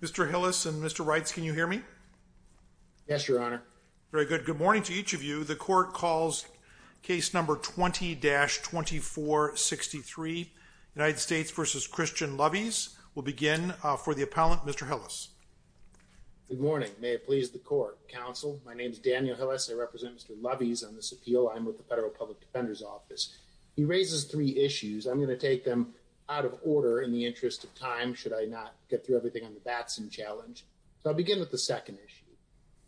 Mr. Hillis and Mr. Reitz, can you hear me? Yes, Your Honor. Very good. Good morning to each of you. The court calls case number 20-2463, United States v. Christian Lovies. We'll begin for the appellant, Mr. Hillis. Good morning. May it please the court. Counsel, my name is Daniel Hillis. I represent Mr. Lovies on this appeal. I'm with the Federal Public Defender's Office. He raises three issues. I'm going to take them out of order in the interest of time, should I not get through everything on the Batson challenge. So I'll begin with the second issue.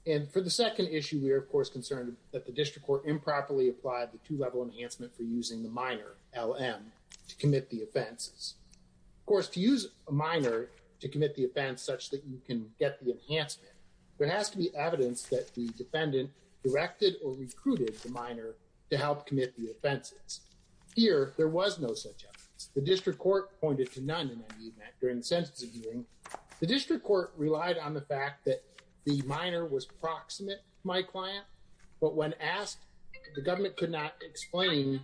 And for the second issue, we are, of course, concerned that the district court improperly applied the two-level enhancement for using the minor, LM, to commit the offenses. Of course, to use a minor to commit the offense such that you can get the enhancement, there has to be evidence that the defendant directed or recruited the minor to help commit the offenses. Here, there was no such evidence. The district court pointed to none in any event during the sentencing hearing. The district court relied on the fact that the minor was proximate to my client, but when asked, the government could not explain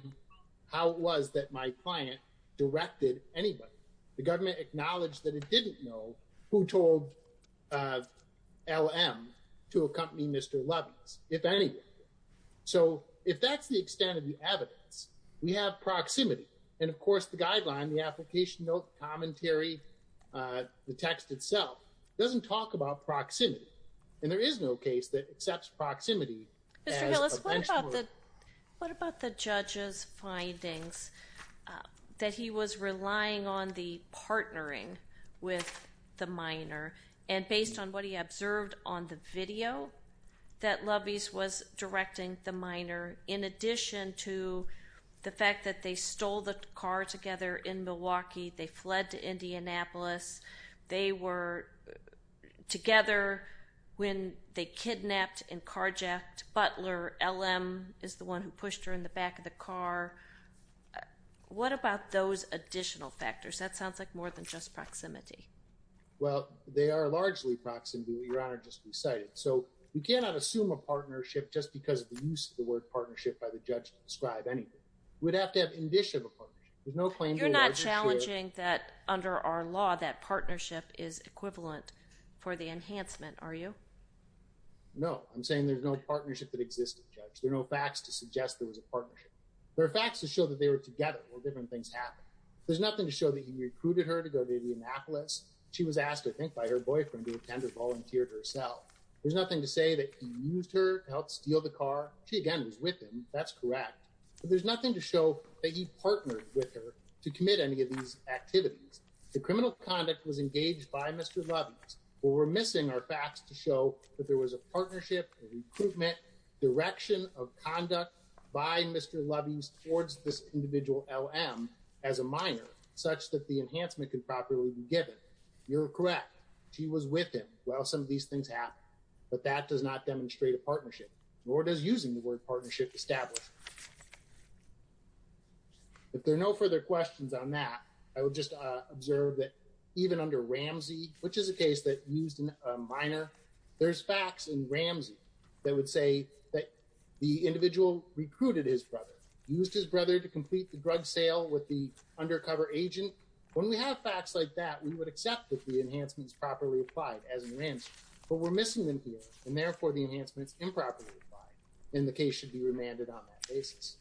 how it was that my client directed anybody. The government acknowledged that it didn't know who told LM to accompany Mr. Lovies, if any. So if that's the extent of the evidence, we have proximity. And of course, the guideline, the application note, the commentary, the text itself, doesn't talk about proximity. And there is no case that accepts proximity as a benchmark. What about the judge's findings that he was relying on the partnering with the minor? And based on what he observed on the video that Lovies was directing the minor, in addition to the fact that they stole the car together in Milwaukee, they fled to Indianapolis, they were together when they kidnapped and carjacked Butler, LM is the one who pushed her in the back of the car. What about those additional factors? That sounds like more than just proximity. Well, they are largely proximity, Your Honor, just to be cited. So we cannot assume a partnership just because of the use of the word partnership by the judge to describe anything. You're not challenging that under our law, that partnership is equivalent for the enhancement, are you? No, I'm saying there's no partnership that existed, Judge. There are no facts to suggest there was a partnership. There are facts to show that they were together when different things happened. There's nothing to show that he recruited her to go to Indianapolis. She was asked, I think, by her boyfriend to attend or volunteered herself. There's nothing to say that he used her to help steal the car. She, again, was with him. That's correct. But there's nothing to show that he partnered with her to commit any of these activities. The criminal conduct was engaged by Mr. Lovey's. What we're missing are facts to show that there was a partnership, recruitment, direction of conduct by Mr. Lovey's towards this individual LM as a minor such that the enhancement can properly be given. You're correct. She was with him while some of these things happened. But that does not demonstrate a partnership, nor does using the word partnership established. If there are no further questions on that, I would just observe that even under Ramsey, which is a case that used a minor. There's facts in Ramsey that would say that the individual recruited his brother, used his brother to complete the drug sale with the undercover agent. When we have facts like that, we would accept that the enhancements properly applied as in Ramsey. But we're missing them here and therefore the enhancements improperly applied in the case should be remanded on that basis.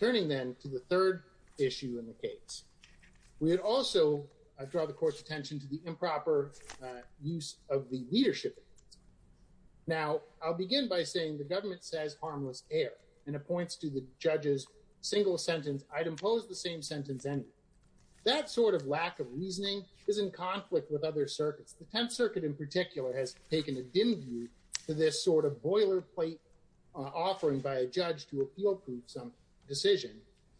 Turning then to the third issue in the case, we would also draw the court's attention to the improper use of the leadership. Now, I'll begin by saying the government says harmless air and appoints to the judges single sentence. I'd impose the same sentence. And that sort of lack of reasoning is in conflict with other circuits. The 10th Circuit in particular has taken a dim view to this sort of boilerplate offering by a judge to appeal, prove some decision.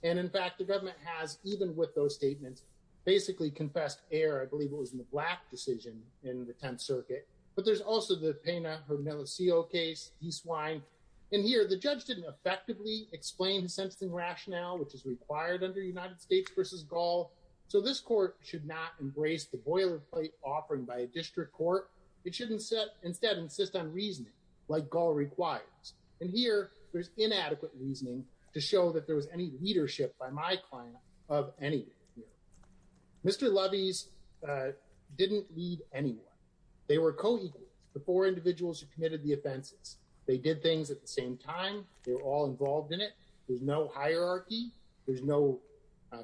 And in fact, the government has, even with those statements, basically confessed air. I believe it was in the black decision in the 10th Circuit. But there's also the pain of her Melisio case. He swine in here. The judge didn't effectively explain the sentencing rationale which is required under United States versus Gaul. So this court should not embrace the boilerplate offering by a district court. It shouldn't set instead insist on reasoning like Gaul requires. And here there's inadequate reasoning to show that there was any leadership by my client of any. Mr. Lovey's didn't need anyone. They were co-equals before individuals who committed the offenses. They did things at the same time. They were all involved in it. There's no hierarchy. There's no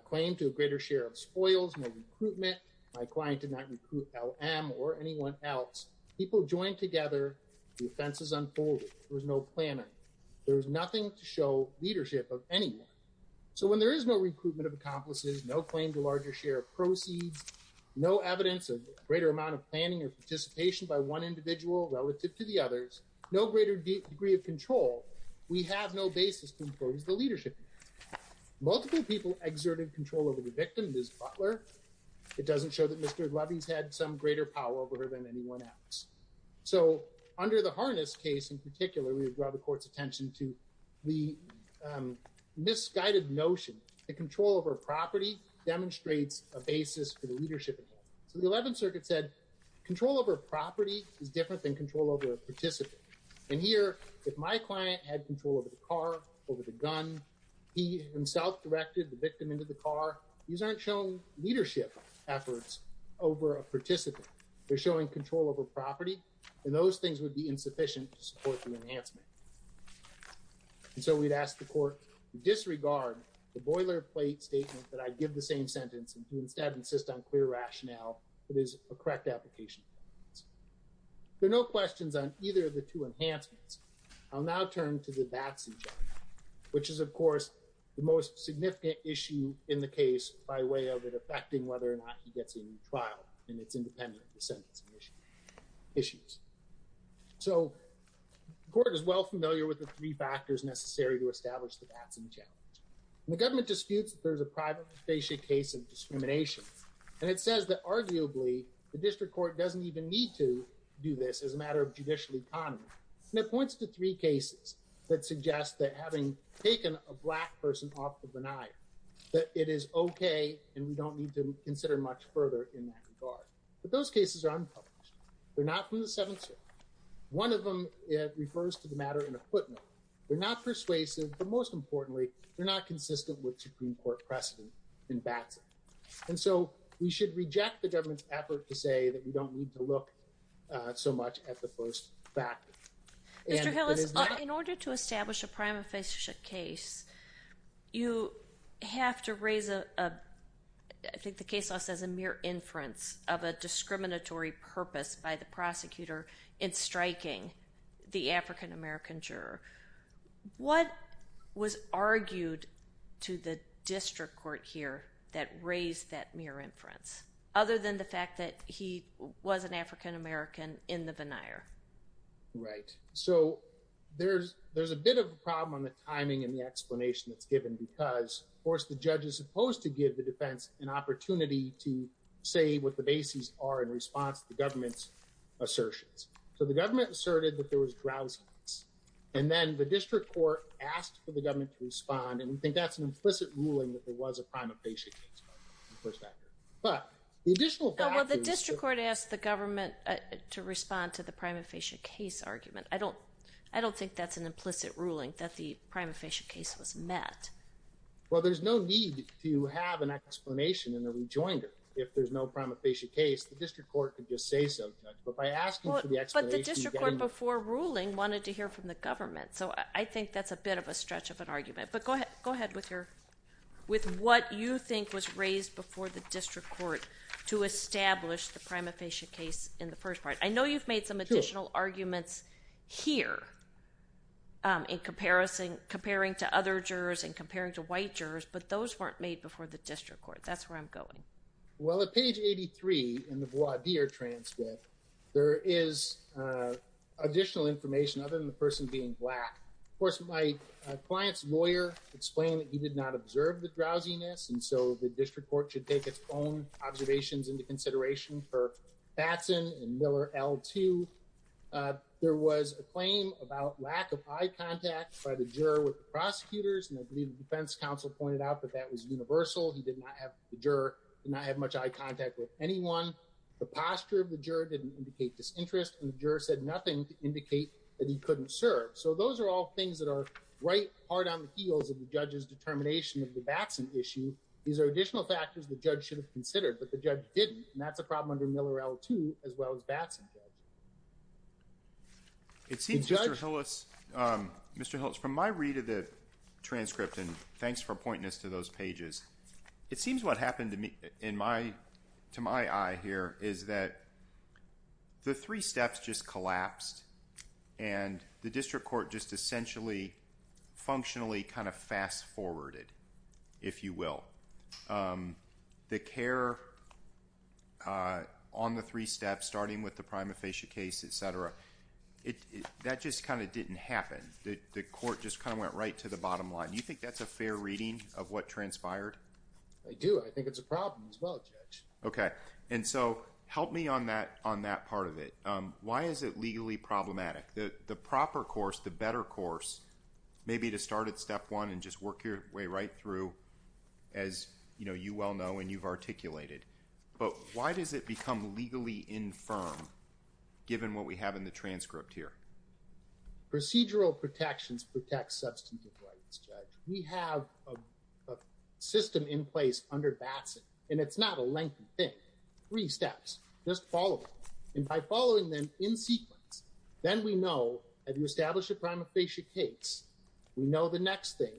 claim to a greater share of spoils and recruitment. My client did not recruit L.M. or anyone else. People joined together. The offenses unfolded. There was no plan. There was nothing to show leadership of anyone. So when there is no recruitment of accomplices, no claim to larger share of proceeds, no evidence of greater amount of planning or participation by one individual relative to the others, no greater degree of control. We have no basis to impose the leadership. Multiple people exerted control over the victim, Ms. Butler. It doesn't show that Mr. Lovey's had some greater power over her than anyone else. So under the harness case in particular, we would draw the court's attention to the misguided notion. The control over property demonstrates a basis for the leadership. So the 11th Circuit said control over property is different than control over a participant. And here, if my client had control over the car, over the gun, he himself directed the victim into the car. They're showing control over property, and those things would be insufficient to support the enhancement. And so we'd ask the court to disregard the boilerplate statement that I give the same sentence and to instead insist on clear rationale that is a correct application. There are no questions on either of the two enhancements. I'll now turn to the Batson challenge, which is, of course, the most significant issue in the case by way of it affecting whether or not he gets a new trial, and it's independent of the sentencing issues. So the court is well familiar with the three factors necessary to establish the Batson challenge. The government disputes that there's a private facie case of discrimination, and it says that arguably the district court doesn't even need to do this as a matter of judicial economy. And it points to three cases that suggest that having taken a black person off the benign, that it is okay and we don't need to consider much further in that regard. But those cases are unpublished. They're not from the Seventh Circuit. One of them refers to the matter in a footnote. They're not persuasive, but most importantly, they're not consistent with Supreme Court precedent in Batson. And so we should reject the government's effort to say that we don't need to look so much at the first factor. Mr. Hillis, in order to establish a private facie case, you have to raise a, I think the case law says, a mere inference of a discriminatory purpose by the prosecutor in striking the African-American juror. What was argued to the district court here that raised that mere inference, other than the fact that he was an African-American in the veneer? Right. So there's a bit of a problem on the timing and the explanation that's given because, of course, the judge is supposed to give the defense an opportunity to say what the bases are in response to the government's assertions. So the government asserted that there was drowsiness. And then the district court asked for the government to respond. And we think that's an implicit ruling that there was a prima facie case. But the additional. The district court asked the government to respond to the prima facie case argument. I don't I don't think that's an implicit ruling that the prima facie case was met. Well, there's no need to have an explanation in the rejoinder if there's no prima facie case. The district court could just say so. But by asking for the explanation. But the district court before ruling wanted to hear from the government. So I think that's a bit of a stretch of an argument. But go ahead. Go ahead with your with what you think was raised before the district court to establish the prima facie case in the first part. I know you've made some additional arguments here. In comparison, comparing to other jurors and comparing to white jurors. But those weren't made before the district court. That's where I'm going. Well, at page 83 in the voir dire transcript, there is additional information other than the person being black. Of course, my client's lawyer explained that he did not observe the drowsiness. And so the district court should take its own observations into consideration for Batson and Miller L2. There was a claim about lack of eye contact by the juror with the prosecutors. And I believe the defense counsel pointed out that that was universal. He did not have the juror and I had much eye contact with anyone. The posture of the juror didn't indicate disinterest. And the juror said nothing to indicate that he couldn't serve. So those are all things that are right. Hard on the heels of the judge's determination of the Batson issue. These are additional factors the judge should have considered, but the judge didn't. And that's a problem under Miller L2 as well as Batson. It seems to us, Mr. Holtz, from my read of the transcript and thanks for pointing us to those pages. It seems what happened to me in my to my eye here is that. The three steps just collapsed and the district court just essentially functionally kind of fast forwarded, if you will. The care on the three steps, starting with the prima facie case, etc. That just kind of didn't happen. The court just kind of went right to the bottom line. You think that's a fair reading of what transpired? I do. I think it's a problem as well. OK. And so help me on that on that part of it. Why is it legally problematic? The proper course, the better course, maybe to start at step one and just work your way right through, as you well know, and you've articulated. But why does it become legally infirm, given what we have in the transcript here? Procedural protections protect substantive rights, Judge. We have a system in place under Batson, and it's not a lengthy thing. Three steps just followed by following them in sequence. Then we know that you establish a prima facie case. We know the next thing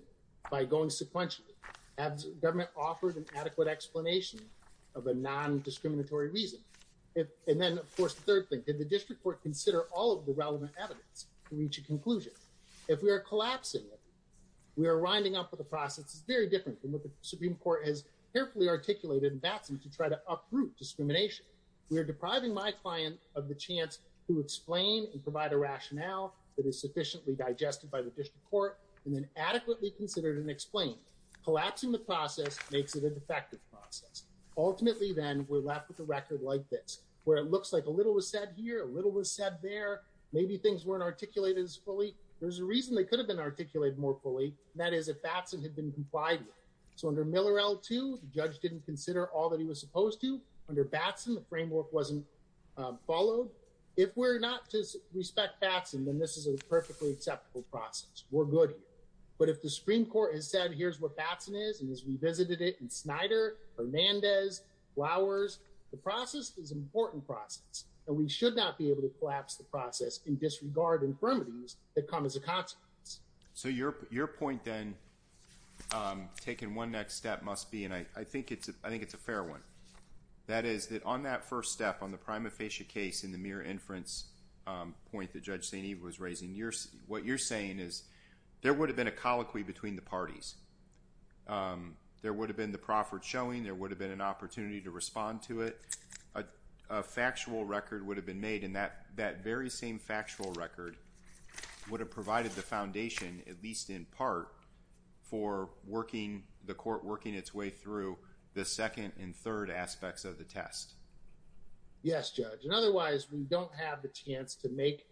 by going sequentially as government offered an adequate explanation of a nondiscriminatory reason. And then, of course, the third thing, did the district court consider all of the relevant evidence to reach a conclusion? If we are collapsing, we are winding up with a process that's very different from what the Supreme Court has carefully articulated in Batson to try to uproot discrimination. We are depriving my client of the chance to explain and provide a rationale that is sufficiently digested by the district court and then adequately considered and explained. Collapsing the process makes it a defective process. Ultimately, then, we're left with a record like this, where it looks like a little was said here, a little was said there. Maybe things weren't articulated as fully. There's a reason they could have been articulated more fully, and that is if Batson had been complied with. So under Miller L2, the judge didn't consider all that he was supposed to. Under Batson, the framework wasn't followed. If we're not to respect Batson, then this is a perfectly acceptable process. We're good here. But if the Supreme Court has said, here's what Batson is and has revisited it in Snyder, Hernandez, Flowers, the process is an important process, and we should not be able to collapse the process and disregard infirmities that come as a consequence. So your point then, taking one next step, must be, and I think it's a fair one, that is that on that first step, on the prima facie case in the mere inference point that Judge St. Eve was raising, what you're saying is there would have been a colloquy between the parties. There would have been the proffered showing. There would have been an opportunity to respond to it. A factual record would have been made, and that very same factual record would have provided the foundation, at least in part, for the court working its way through the second and third aspects of the test. Yes, Judge. And otherwise, we don't have the chance to make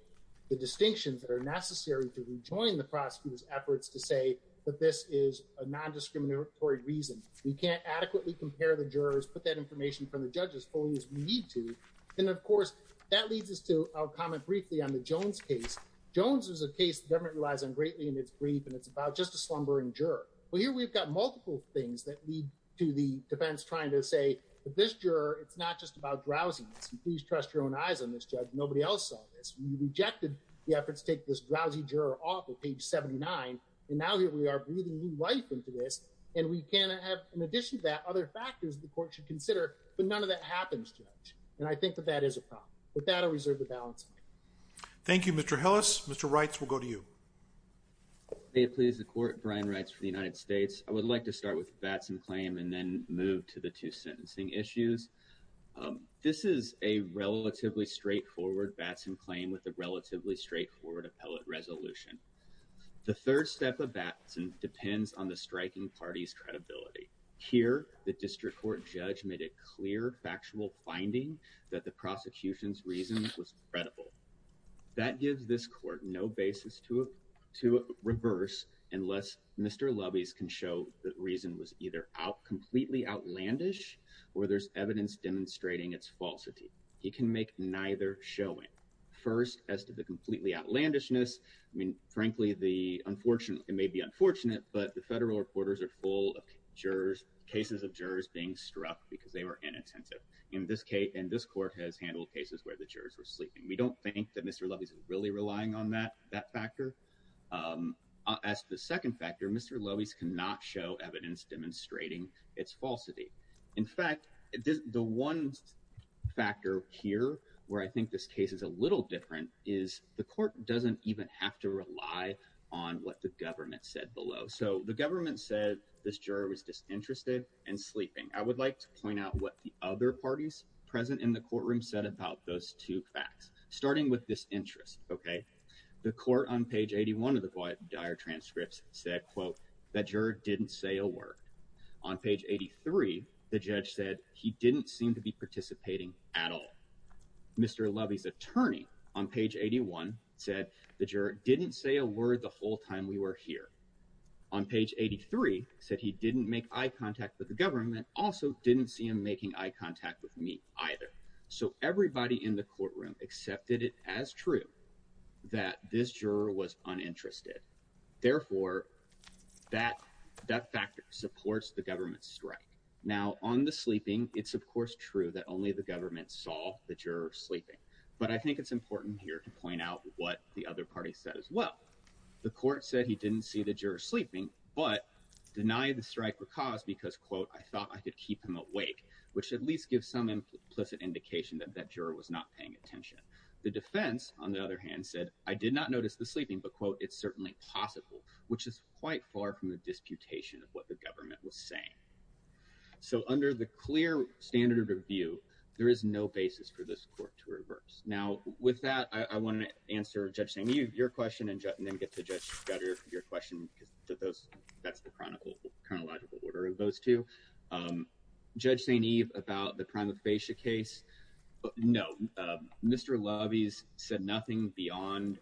the distinctions that are necessary to rejoin the prosecutor's efforts to say that this is a non-discriminatory reason. We can't adequately compare the jurors, put that information from the judges as fully as we need to. And of course, that leads us to our comment briefly on the Jones case. Jones is a case the government relies on greatly in its brief, and it's about just a slumbering juror. Well, here we've got multiple things that lead to the defense trying to say that this juror, it's not just about drowsiness. And please trust your own eyes on this, Judge. Nobody else saw this. We rejected the efforts to take this drowsy juror off of page 79, and now here we are breathing new life into this. And we can have, in addition to that, other factors the court should consider, but none of that happens, Judge. And I think that that is a problem. With that, I reserve the balance of my time. Thank you, Mr. Hillis. Mr. Reitz, we'll go to you. May it please the Court. Brian Reitz for the United States. I would like to start with the Batson claim and then move to the two sentencing issues. This is a relatively straightforward Batson claim with a relatively straightforward appellate resolution. The third step of Batson depends on the striking party's credibility. Here, the district court judge made a clear, factual finding that the prosecution's reason was credible. That gives this court no basis to reverse unless Mr. Lubbez can show that reason was either completely outlandish or there's evidence demonstrating its falsity. He can make neither showing. First, as to the completely outlandishness, I mean, frankly, it may be unfortunate, but the federal reporters are full of cases of jurors being struck because they were inattentive. And this court has handled cases where the jurors were sleeping. We don't think that Mr. Lubbez is really relying on that factor. As to the second factor, Mr. Lubbez cannot show evidence demonstrating its falsity. In fact, the one factor here where I think this case is a little different is the court doesn't even have to rely on what the government said below. So the government said this juror was disinterested and sleeping. I would like to point out what the other parties present in the courtroom said about those two facts, starting with this interest. OK, the court on page 81 of the quiet dire transcripts said, quote, that juror didn't say a word. On page 83, the judge said he didn't seem to be participating at all. Mr. Lubbez attorney on page 81 said the juror didn't say a word the whole time we were here. On page 83 said he didn't make eye contact with the government. Also didn't see him making eye contact with me either. So everybody in the courtroom accepted it as true that this juror was uninterested. Therefore, that that factor supports the government strike now on the sleeping. It's, of course, true that only the government saw the juror sleeping. But I think it's important here to point out what the other party said as well. The court said he didn't see the juror sleeping, but denied the strike because, quote, I thought I could keep him awake, which at least gives some implicit indication that that juror was not paying attention. The defense, on the other hand, said I did not notice the sleeping, but, quote, it's certainly possible, which is quite far from the disputation of what the government was saying. So under the clear standard of view, there is no basis for this court to reverse. Now, with that, I want to answer your question and then get to your question to those. That's the chronicle chronological order of those two. Judge St. Eve about the prima facie case. No, Mr. Lovey's said nothing beyond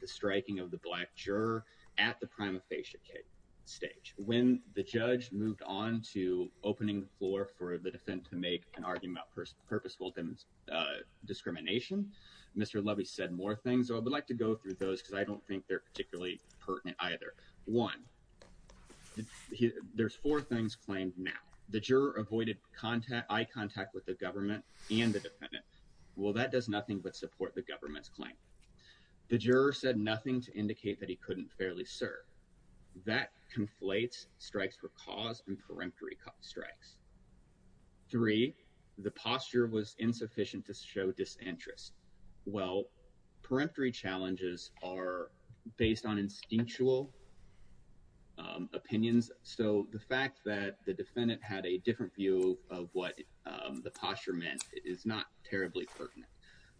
the striking of the black juror at the prima facie stage. When the judge moved on to opening the floor for the defendant to make an argument for purposeful discrimination, Mr. Lovey said more things. I would like to go through those because I don't think they're particularly pertinent either. One, there's four things claimed now. The juror avoided contact. I contact with the government and the defendant. Well, that does nothing but support the government's claim. The juror said nothing to indicate that he couldn't fairly serve. That conflates strikes for cause and peremptory strikes. Three, the posture was insufficient to show disinterest. Well, peremptory challenges are based on instinctual opinions. So the fact that the defendant had a different view of what the posture meant is not terribly pertinent.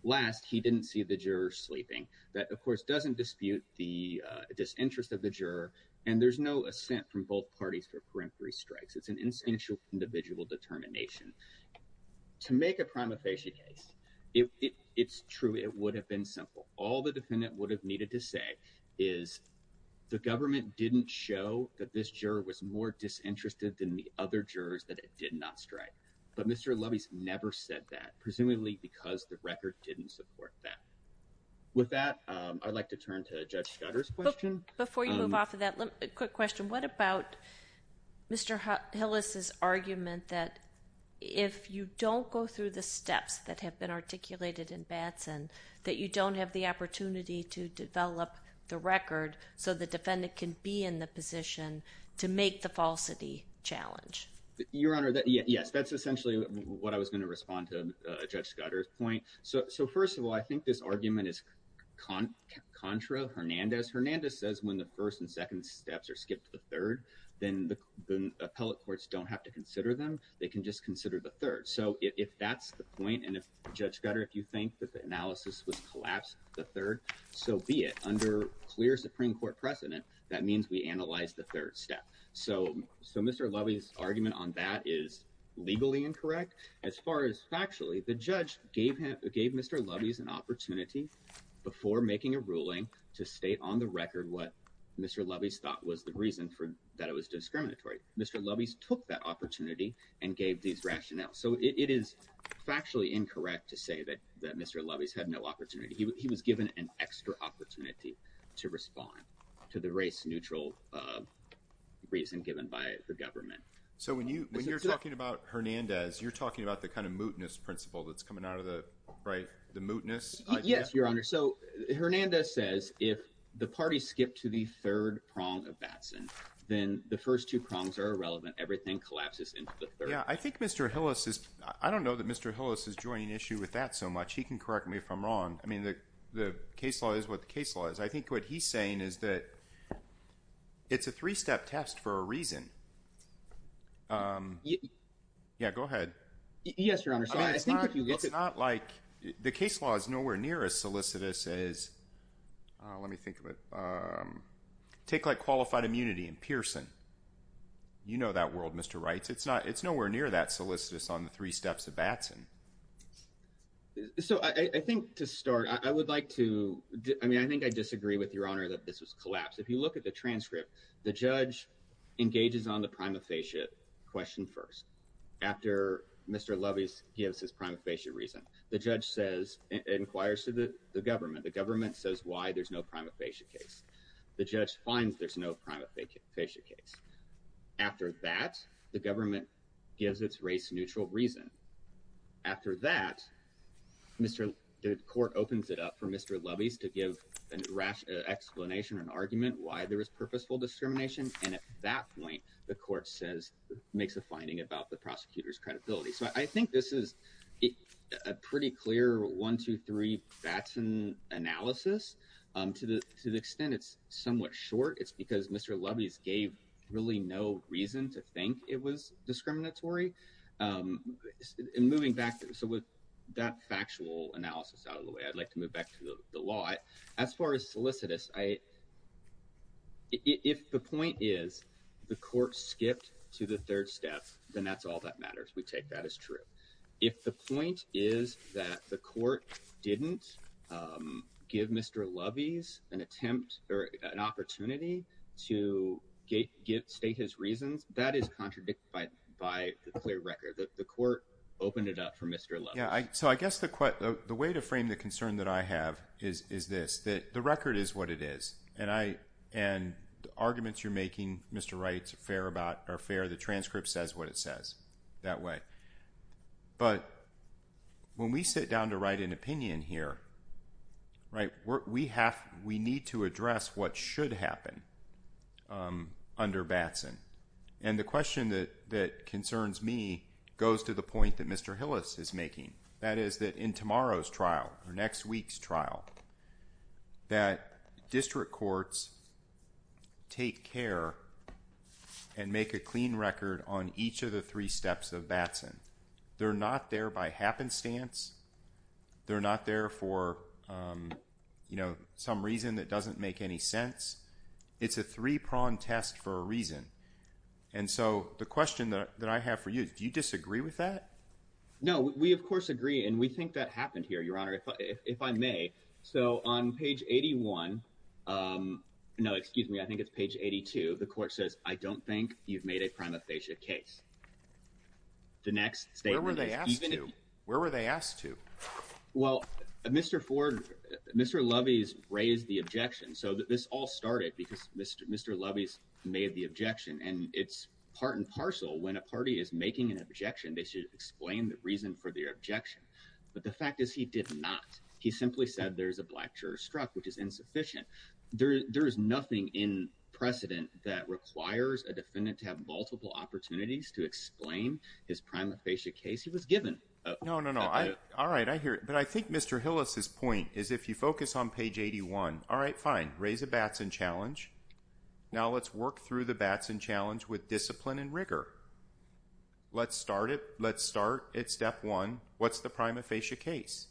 Last, he didn't see the juror sleeping. That, of course, doesn't dispute the disinterest of the juror. And there's no assent from both parties for peremptory strikes. It's an instinctual individual determination to make a prima facie case. It's true. It would have been simple. All the defendant would have needed to say is the government didn't show that this juror was more disinterested than the other jurors that it did not strike. But Mr. Lovey's never said that, presumably because the record didn't support that. With that, I'd like to turn to Judge Schutter's question. Before you move off of that, a quick question. What about Mr. Hillis's argument that if you don't go through the steps that have been articulated in Batson, that you don't have the opportunity to develop the record so the defendant can be in the position to make the falsity challenge? Your Honor, yes, that's essentially what I was going to respond to Judge Schutter's point. So first of all, I think this argument is contra Hernandez. Hernandez says when the first and second steps are skipped to the third, then the appellate courts don't have to consider them. They can just consider the third. So if that's the point and if Judge Schutter, if you think that the analysis would collapse the third, so be it. Under clear Supreme Court precedent, that means we analyze the third step. So Mr. Lovey's argument on that is legally incorrect. As far as factually, the judge gave Mr. Lovey's an opportunity before making a ruling to state on the record what Mr. Lovey's thought was the reason that it was discriminatory. Mr. Lovey's took that opportunity and gave these rationales. So it is factually incorrect to say that Mr. Lovey's had no opportunity. He was given an extra opportunity to respond to the race neutral reason given by the government. So when you when you're talking about Hernandez, you're talking about the kind of mootness principle that's coming out of the right, the mootness. Yes, Your Honor. So Hernandez says if the party skipped to the third prong of Batson, then the first two prongs are irrelevant. Everything collapses into the third. Yeah, I think Mr. Hillis is I don't know that Mr. Hillis is joining issue with that so much. He can correct me if I'm wrong. I mean, the the case law is what the case law is. I think what he's saying is that it's a three step test for a reason. Yeah, go ahead. Yes, Your Honor. It's not like the case law is nowhere near as solicitous as let me think of it. Take like qualified immunity in Pearson. You know that world, Mr. Right. It's not it's nowhere near that solicitous on the three steps of Batson. So I think to start, I would like to I mean, I think I disagree with your honor that this was collapsed. If you look at the transcript, the judge engages on the prima facie question first. After Mr. Lovey's gives his prima facie reason, the judge says inquires to the government. The government says why there's no prima facie case. The judge finds there's no prima facie case. After that, the government gives its race neutral reason. After that, Mr. The court opens it up for Mr. Lovey's to give an explanation, an argument why there is purposeful discrimination. And at that point, the court says makes a finding about the prosecutor's credibility. So I think this is a pretty clear one, two, three Batson analysis to the extent it's somewhat short. It's because Mr. Lovey's gave really no reason to think it was discriminatory in moving back. So with that factual analysis out of the way, I'd like to move back to the law. As far as solicitous, I. If the point is the court skipped to the third step, then that's all that matters. We take that as true. If the point is that the court didn't give Mr. Lovey's an attempt or an opportunity to get state his reasons. That is contradicted by by the clear record that the court opened it up for Mr. Yeah. So I guess the the way to frame the concern that I have is is this that the record is what it is. And I and the arguments you're making, Mr. Wright's fair about our fair. The transcript says what it says that way. But when we sit down to write an opinion here. Right. We have we need to address what should happen under Batson. And the question that that concerns me goes to the point that Mr. Hillis is making. That is that in tomorrow's trial or next week's trial. That district courts. Take care and make a clean record on each of the three steps of Batson. They're not there by happenstance. They're not there for some reason that doesn't make any sense. It's a three prong test for a reason. And so the question that I have for you, do you disagree with that? No, we, of course, agree. And we think that happened here, Your Honor, if I may. So on page eighty one. No, excuse me. I think it's page eighty two. The court says I don't think you've made a prima facie case. The next day, where were they asked to? Where were they asked to? Well, Mr. Ford, Mr. Lovey's raised the objection. So this all started because Mr. Mr. Lovey's made the objection. And it's part and parcel. When a party is making an objection, they should explain the reason for the objection. But the fact is, he did not. He simply said there is a black juror struck, which is insufficient. There is nothing in precedent that requires a defendant to have multiple opportunities to explain his prima facie case. He was given. No, no, no. All right. I hear it. But I think Mr. Hillis's point is if you focus on page eighty one. All right. Fine. Raise a Batson challenge. Now let's work through the Batson challenge with discipline and rigor. Let's start it. Let's start at step one. What's the prima facie case?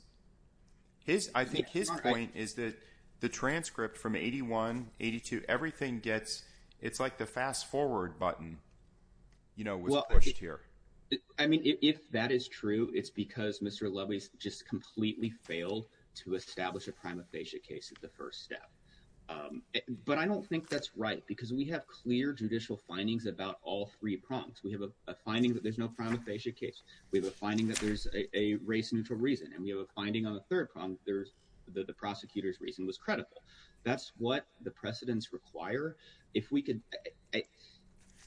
His I think his point is that the transcript from eighty one, eighty two, everything gets. It's like the fast forward button, you know, here. I mean, if that is true, it's because Mr. Lovey's just completely failed to establish a prima facie case. It's the first step. But I don't think that's right, because we have clear judicial findings about all three prongs. We have a finding that there's no prima facie case. We have a finding that there's a race neutral reason. And we have a finding on the third prong. There's the prosecutor's reason was credible. That's what the precedents require. If we could.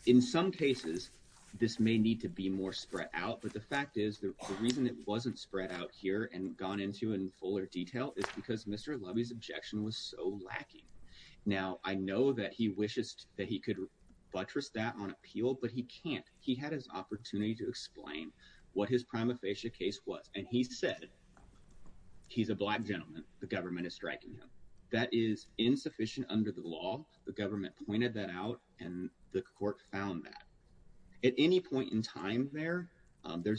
In some cases, this may need to be more spread out. But the fact is, the reason it wasn't spread out here and gone into in fuller detail is because Mr. Lovey's objection was so lacking. Now, I know that he wishes that he could buttress that on appeal, but he can't. He had his opportunity to explain what his prima facie case was. And he said he's a black gentleman. The government is striking him. That is insufficient under the law. The government pointed that out and the court found that at any point in time. There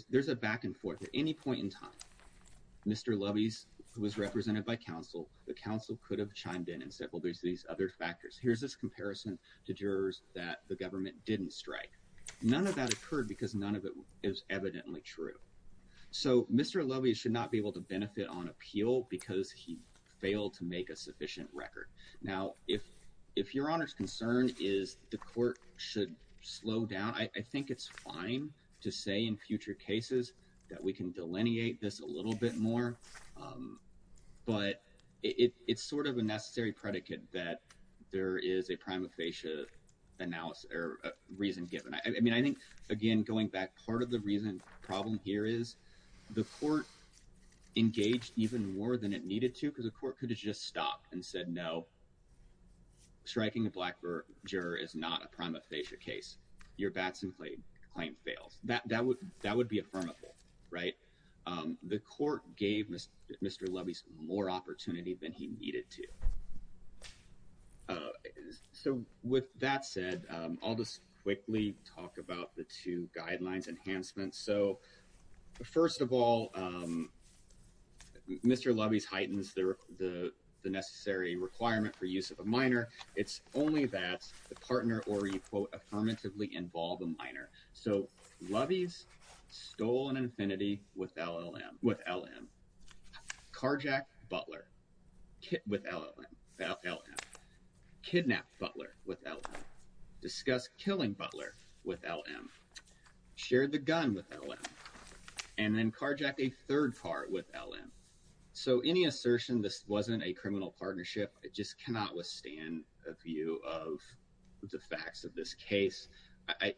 there's a back and forth at any point in time. Mr. Lovey's was represented by counsel. The council could have chimed in and said, well, there's these other factors. Here's this comparison to jurors that the government didn't strike. None of that occurred because none of it is evidently true. So Mr. Lovey should not be able to benefit on appeal because he failed to make a sufficient record. Now, if if your honor's concern is the court should slow down. I think it's fine to say in future cases that we can delineate this a little bit more. But it's sort of a necessary predicate that there is a prima facie analysis or reason given. I mean, I think, again, going back part of the reason problem here is the court engaged even more than it needed to, because the court could just stop and said no. Striking a black or juror is not a prima facie case. Your bats and clay claim fails that that would that would be affirmative. Right. The court gave Mr. Lovey's more opportunity than he needed to. So with that said, I'll just quickly talk about the two guidelines enhancements. So, first of all, Mr. Lovey's heightens the the the necessary requirement for use of a minor. It's only that the partner or, you quote, affirmatively involve a minor. So Lovey's stolen infinity with LLM with LLM carjack Butler with LLM LLM kidnap Butler with discuss killing Butler with LLM shared the gun with LLM and then carjack a third part with LLM. So any assertion this wasn't a criminal partnership, it just cannot withstand a view of the facts of this case. I,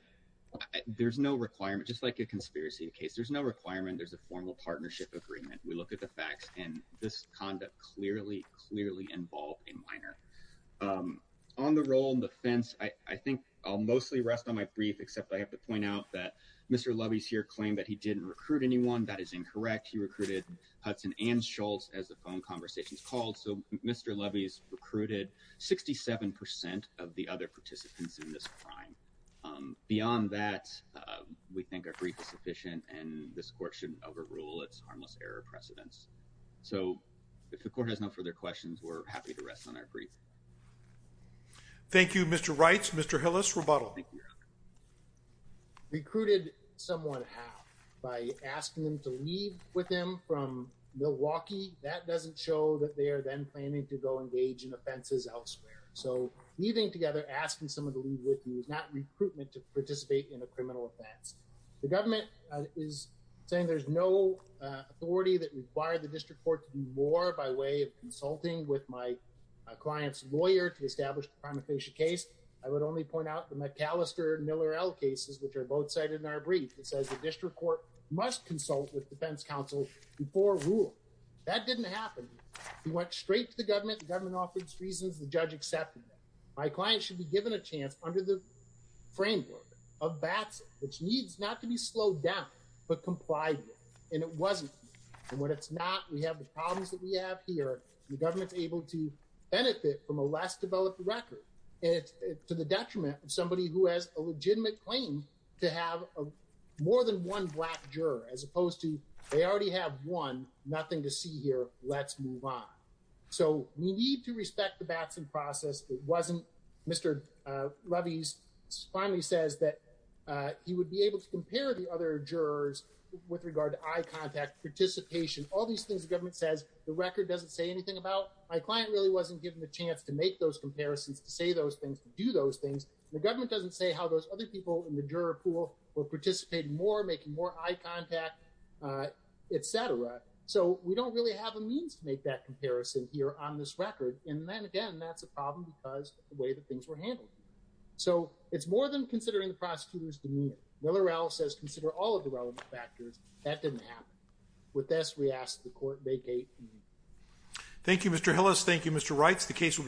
there's no requirement, just like a conspiracy case. There's no requirement. There's a formal partnership agreement. We look at the facts and this conduct clearly, clearly involved in minor on the role in the fence. I think I'll mostly rest on my brief, except I have to point out that Mr. Lovey's here claim that he didn't recruit anyone. That is incorrect. He recruited Hudson and Schultz as the phone conversations called. So Mr. Lovey's recruited 67 percent of the other participants in this crime. Beyond that, we think a brief is sufficient and this court should overrule its harmless error precedents. So if the court has no further questions, we're happy to rest on our brief. Thank you, Mr. Wright's Mr. Hillis rebuttal. Recruited someone by asking them to leave with him from Milwaukee. That doesn't show that they are then planning to go engage in offenses elsewhere. So leaving together, asking someone to leave with you is not recruitment to participate in a criminal offense. The government is saying there's no authority that require the district court to do more by way of consulting with my client's lawyer to establish a case. I would only point out the McAllister Miller cases, which are both cited in our brief. It says the district court must consult with defense counsel before rule that didn't happen. He went straight to the government. The government offers reasons. The judge accepted. My client should be given a chance under the framework of bats, which needs not to be slowed down, but complied. And it wasn't what it's not. We have the problems that we have here. The government's able to benefit from a less developed record. And to the detriment of somebody who has a legitimate claim to have more than one black juror, as opposed to they already have one. Nothing to see here. Let's move on. So we need to respect the Batson process. It wasn't Mr. Lovey's finally says that he would be able to compare the other jurors with regard to eye contact, participation, all these things. The government says the record doesn't say anything about my client really wasn't given the chance to make those comparisons, to say those things, do those things. The government doesn't say how those other people in the juror pool will participate more, making more eye contact, et cetera. So we don't really have a means to make that comparison here on this record. And then again, that's a problem because the way that things were handled. So it's more than considering the prosecutor's demeanor. Miller L says, consider all of the relevant factors that didn't happen. With this, we ask the court vacate. Thank you, Mr. Hillis. Thank you, Mr. Wrights. The case will be taken.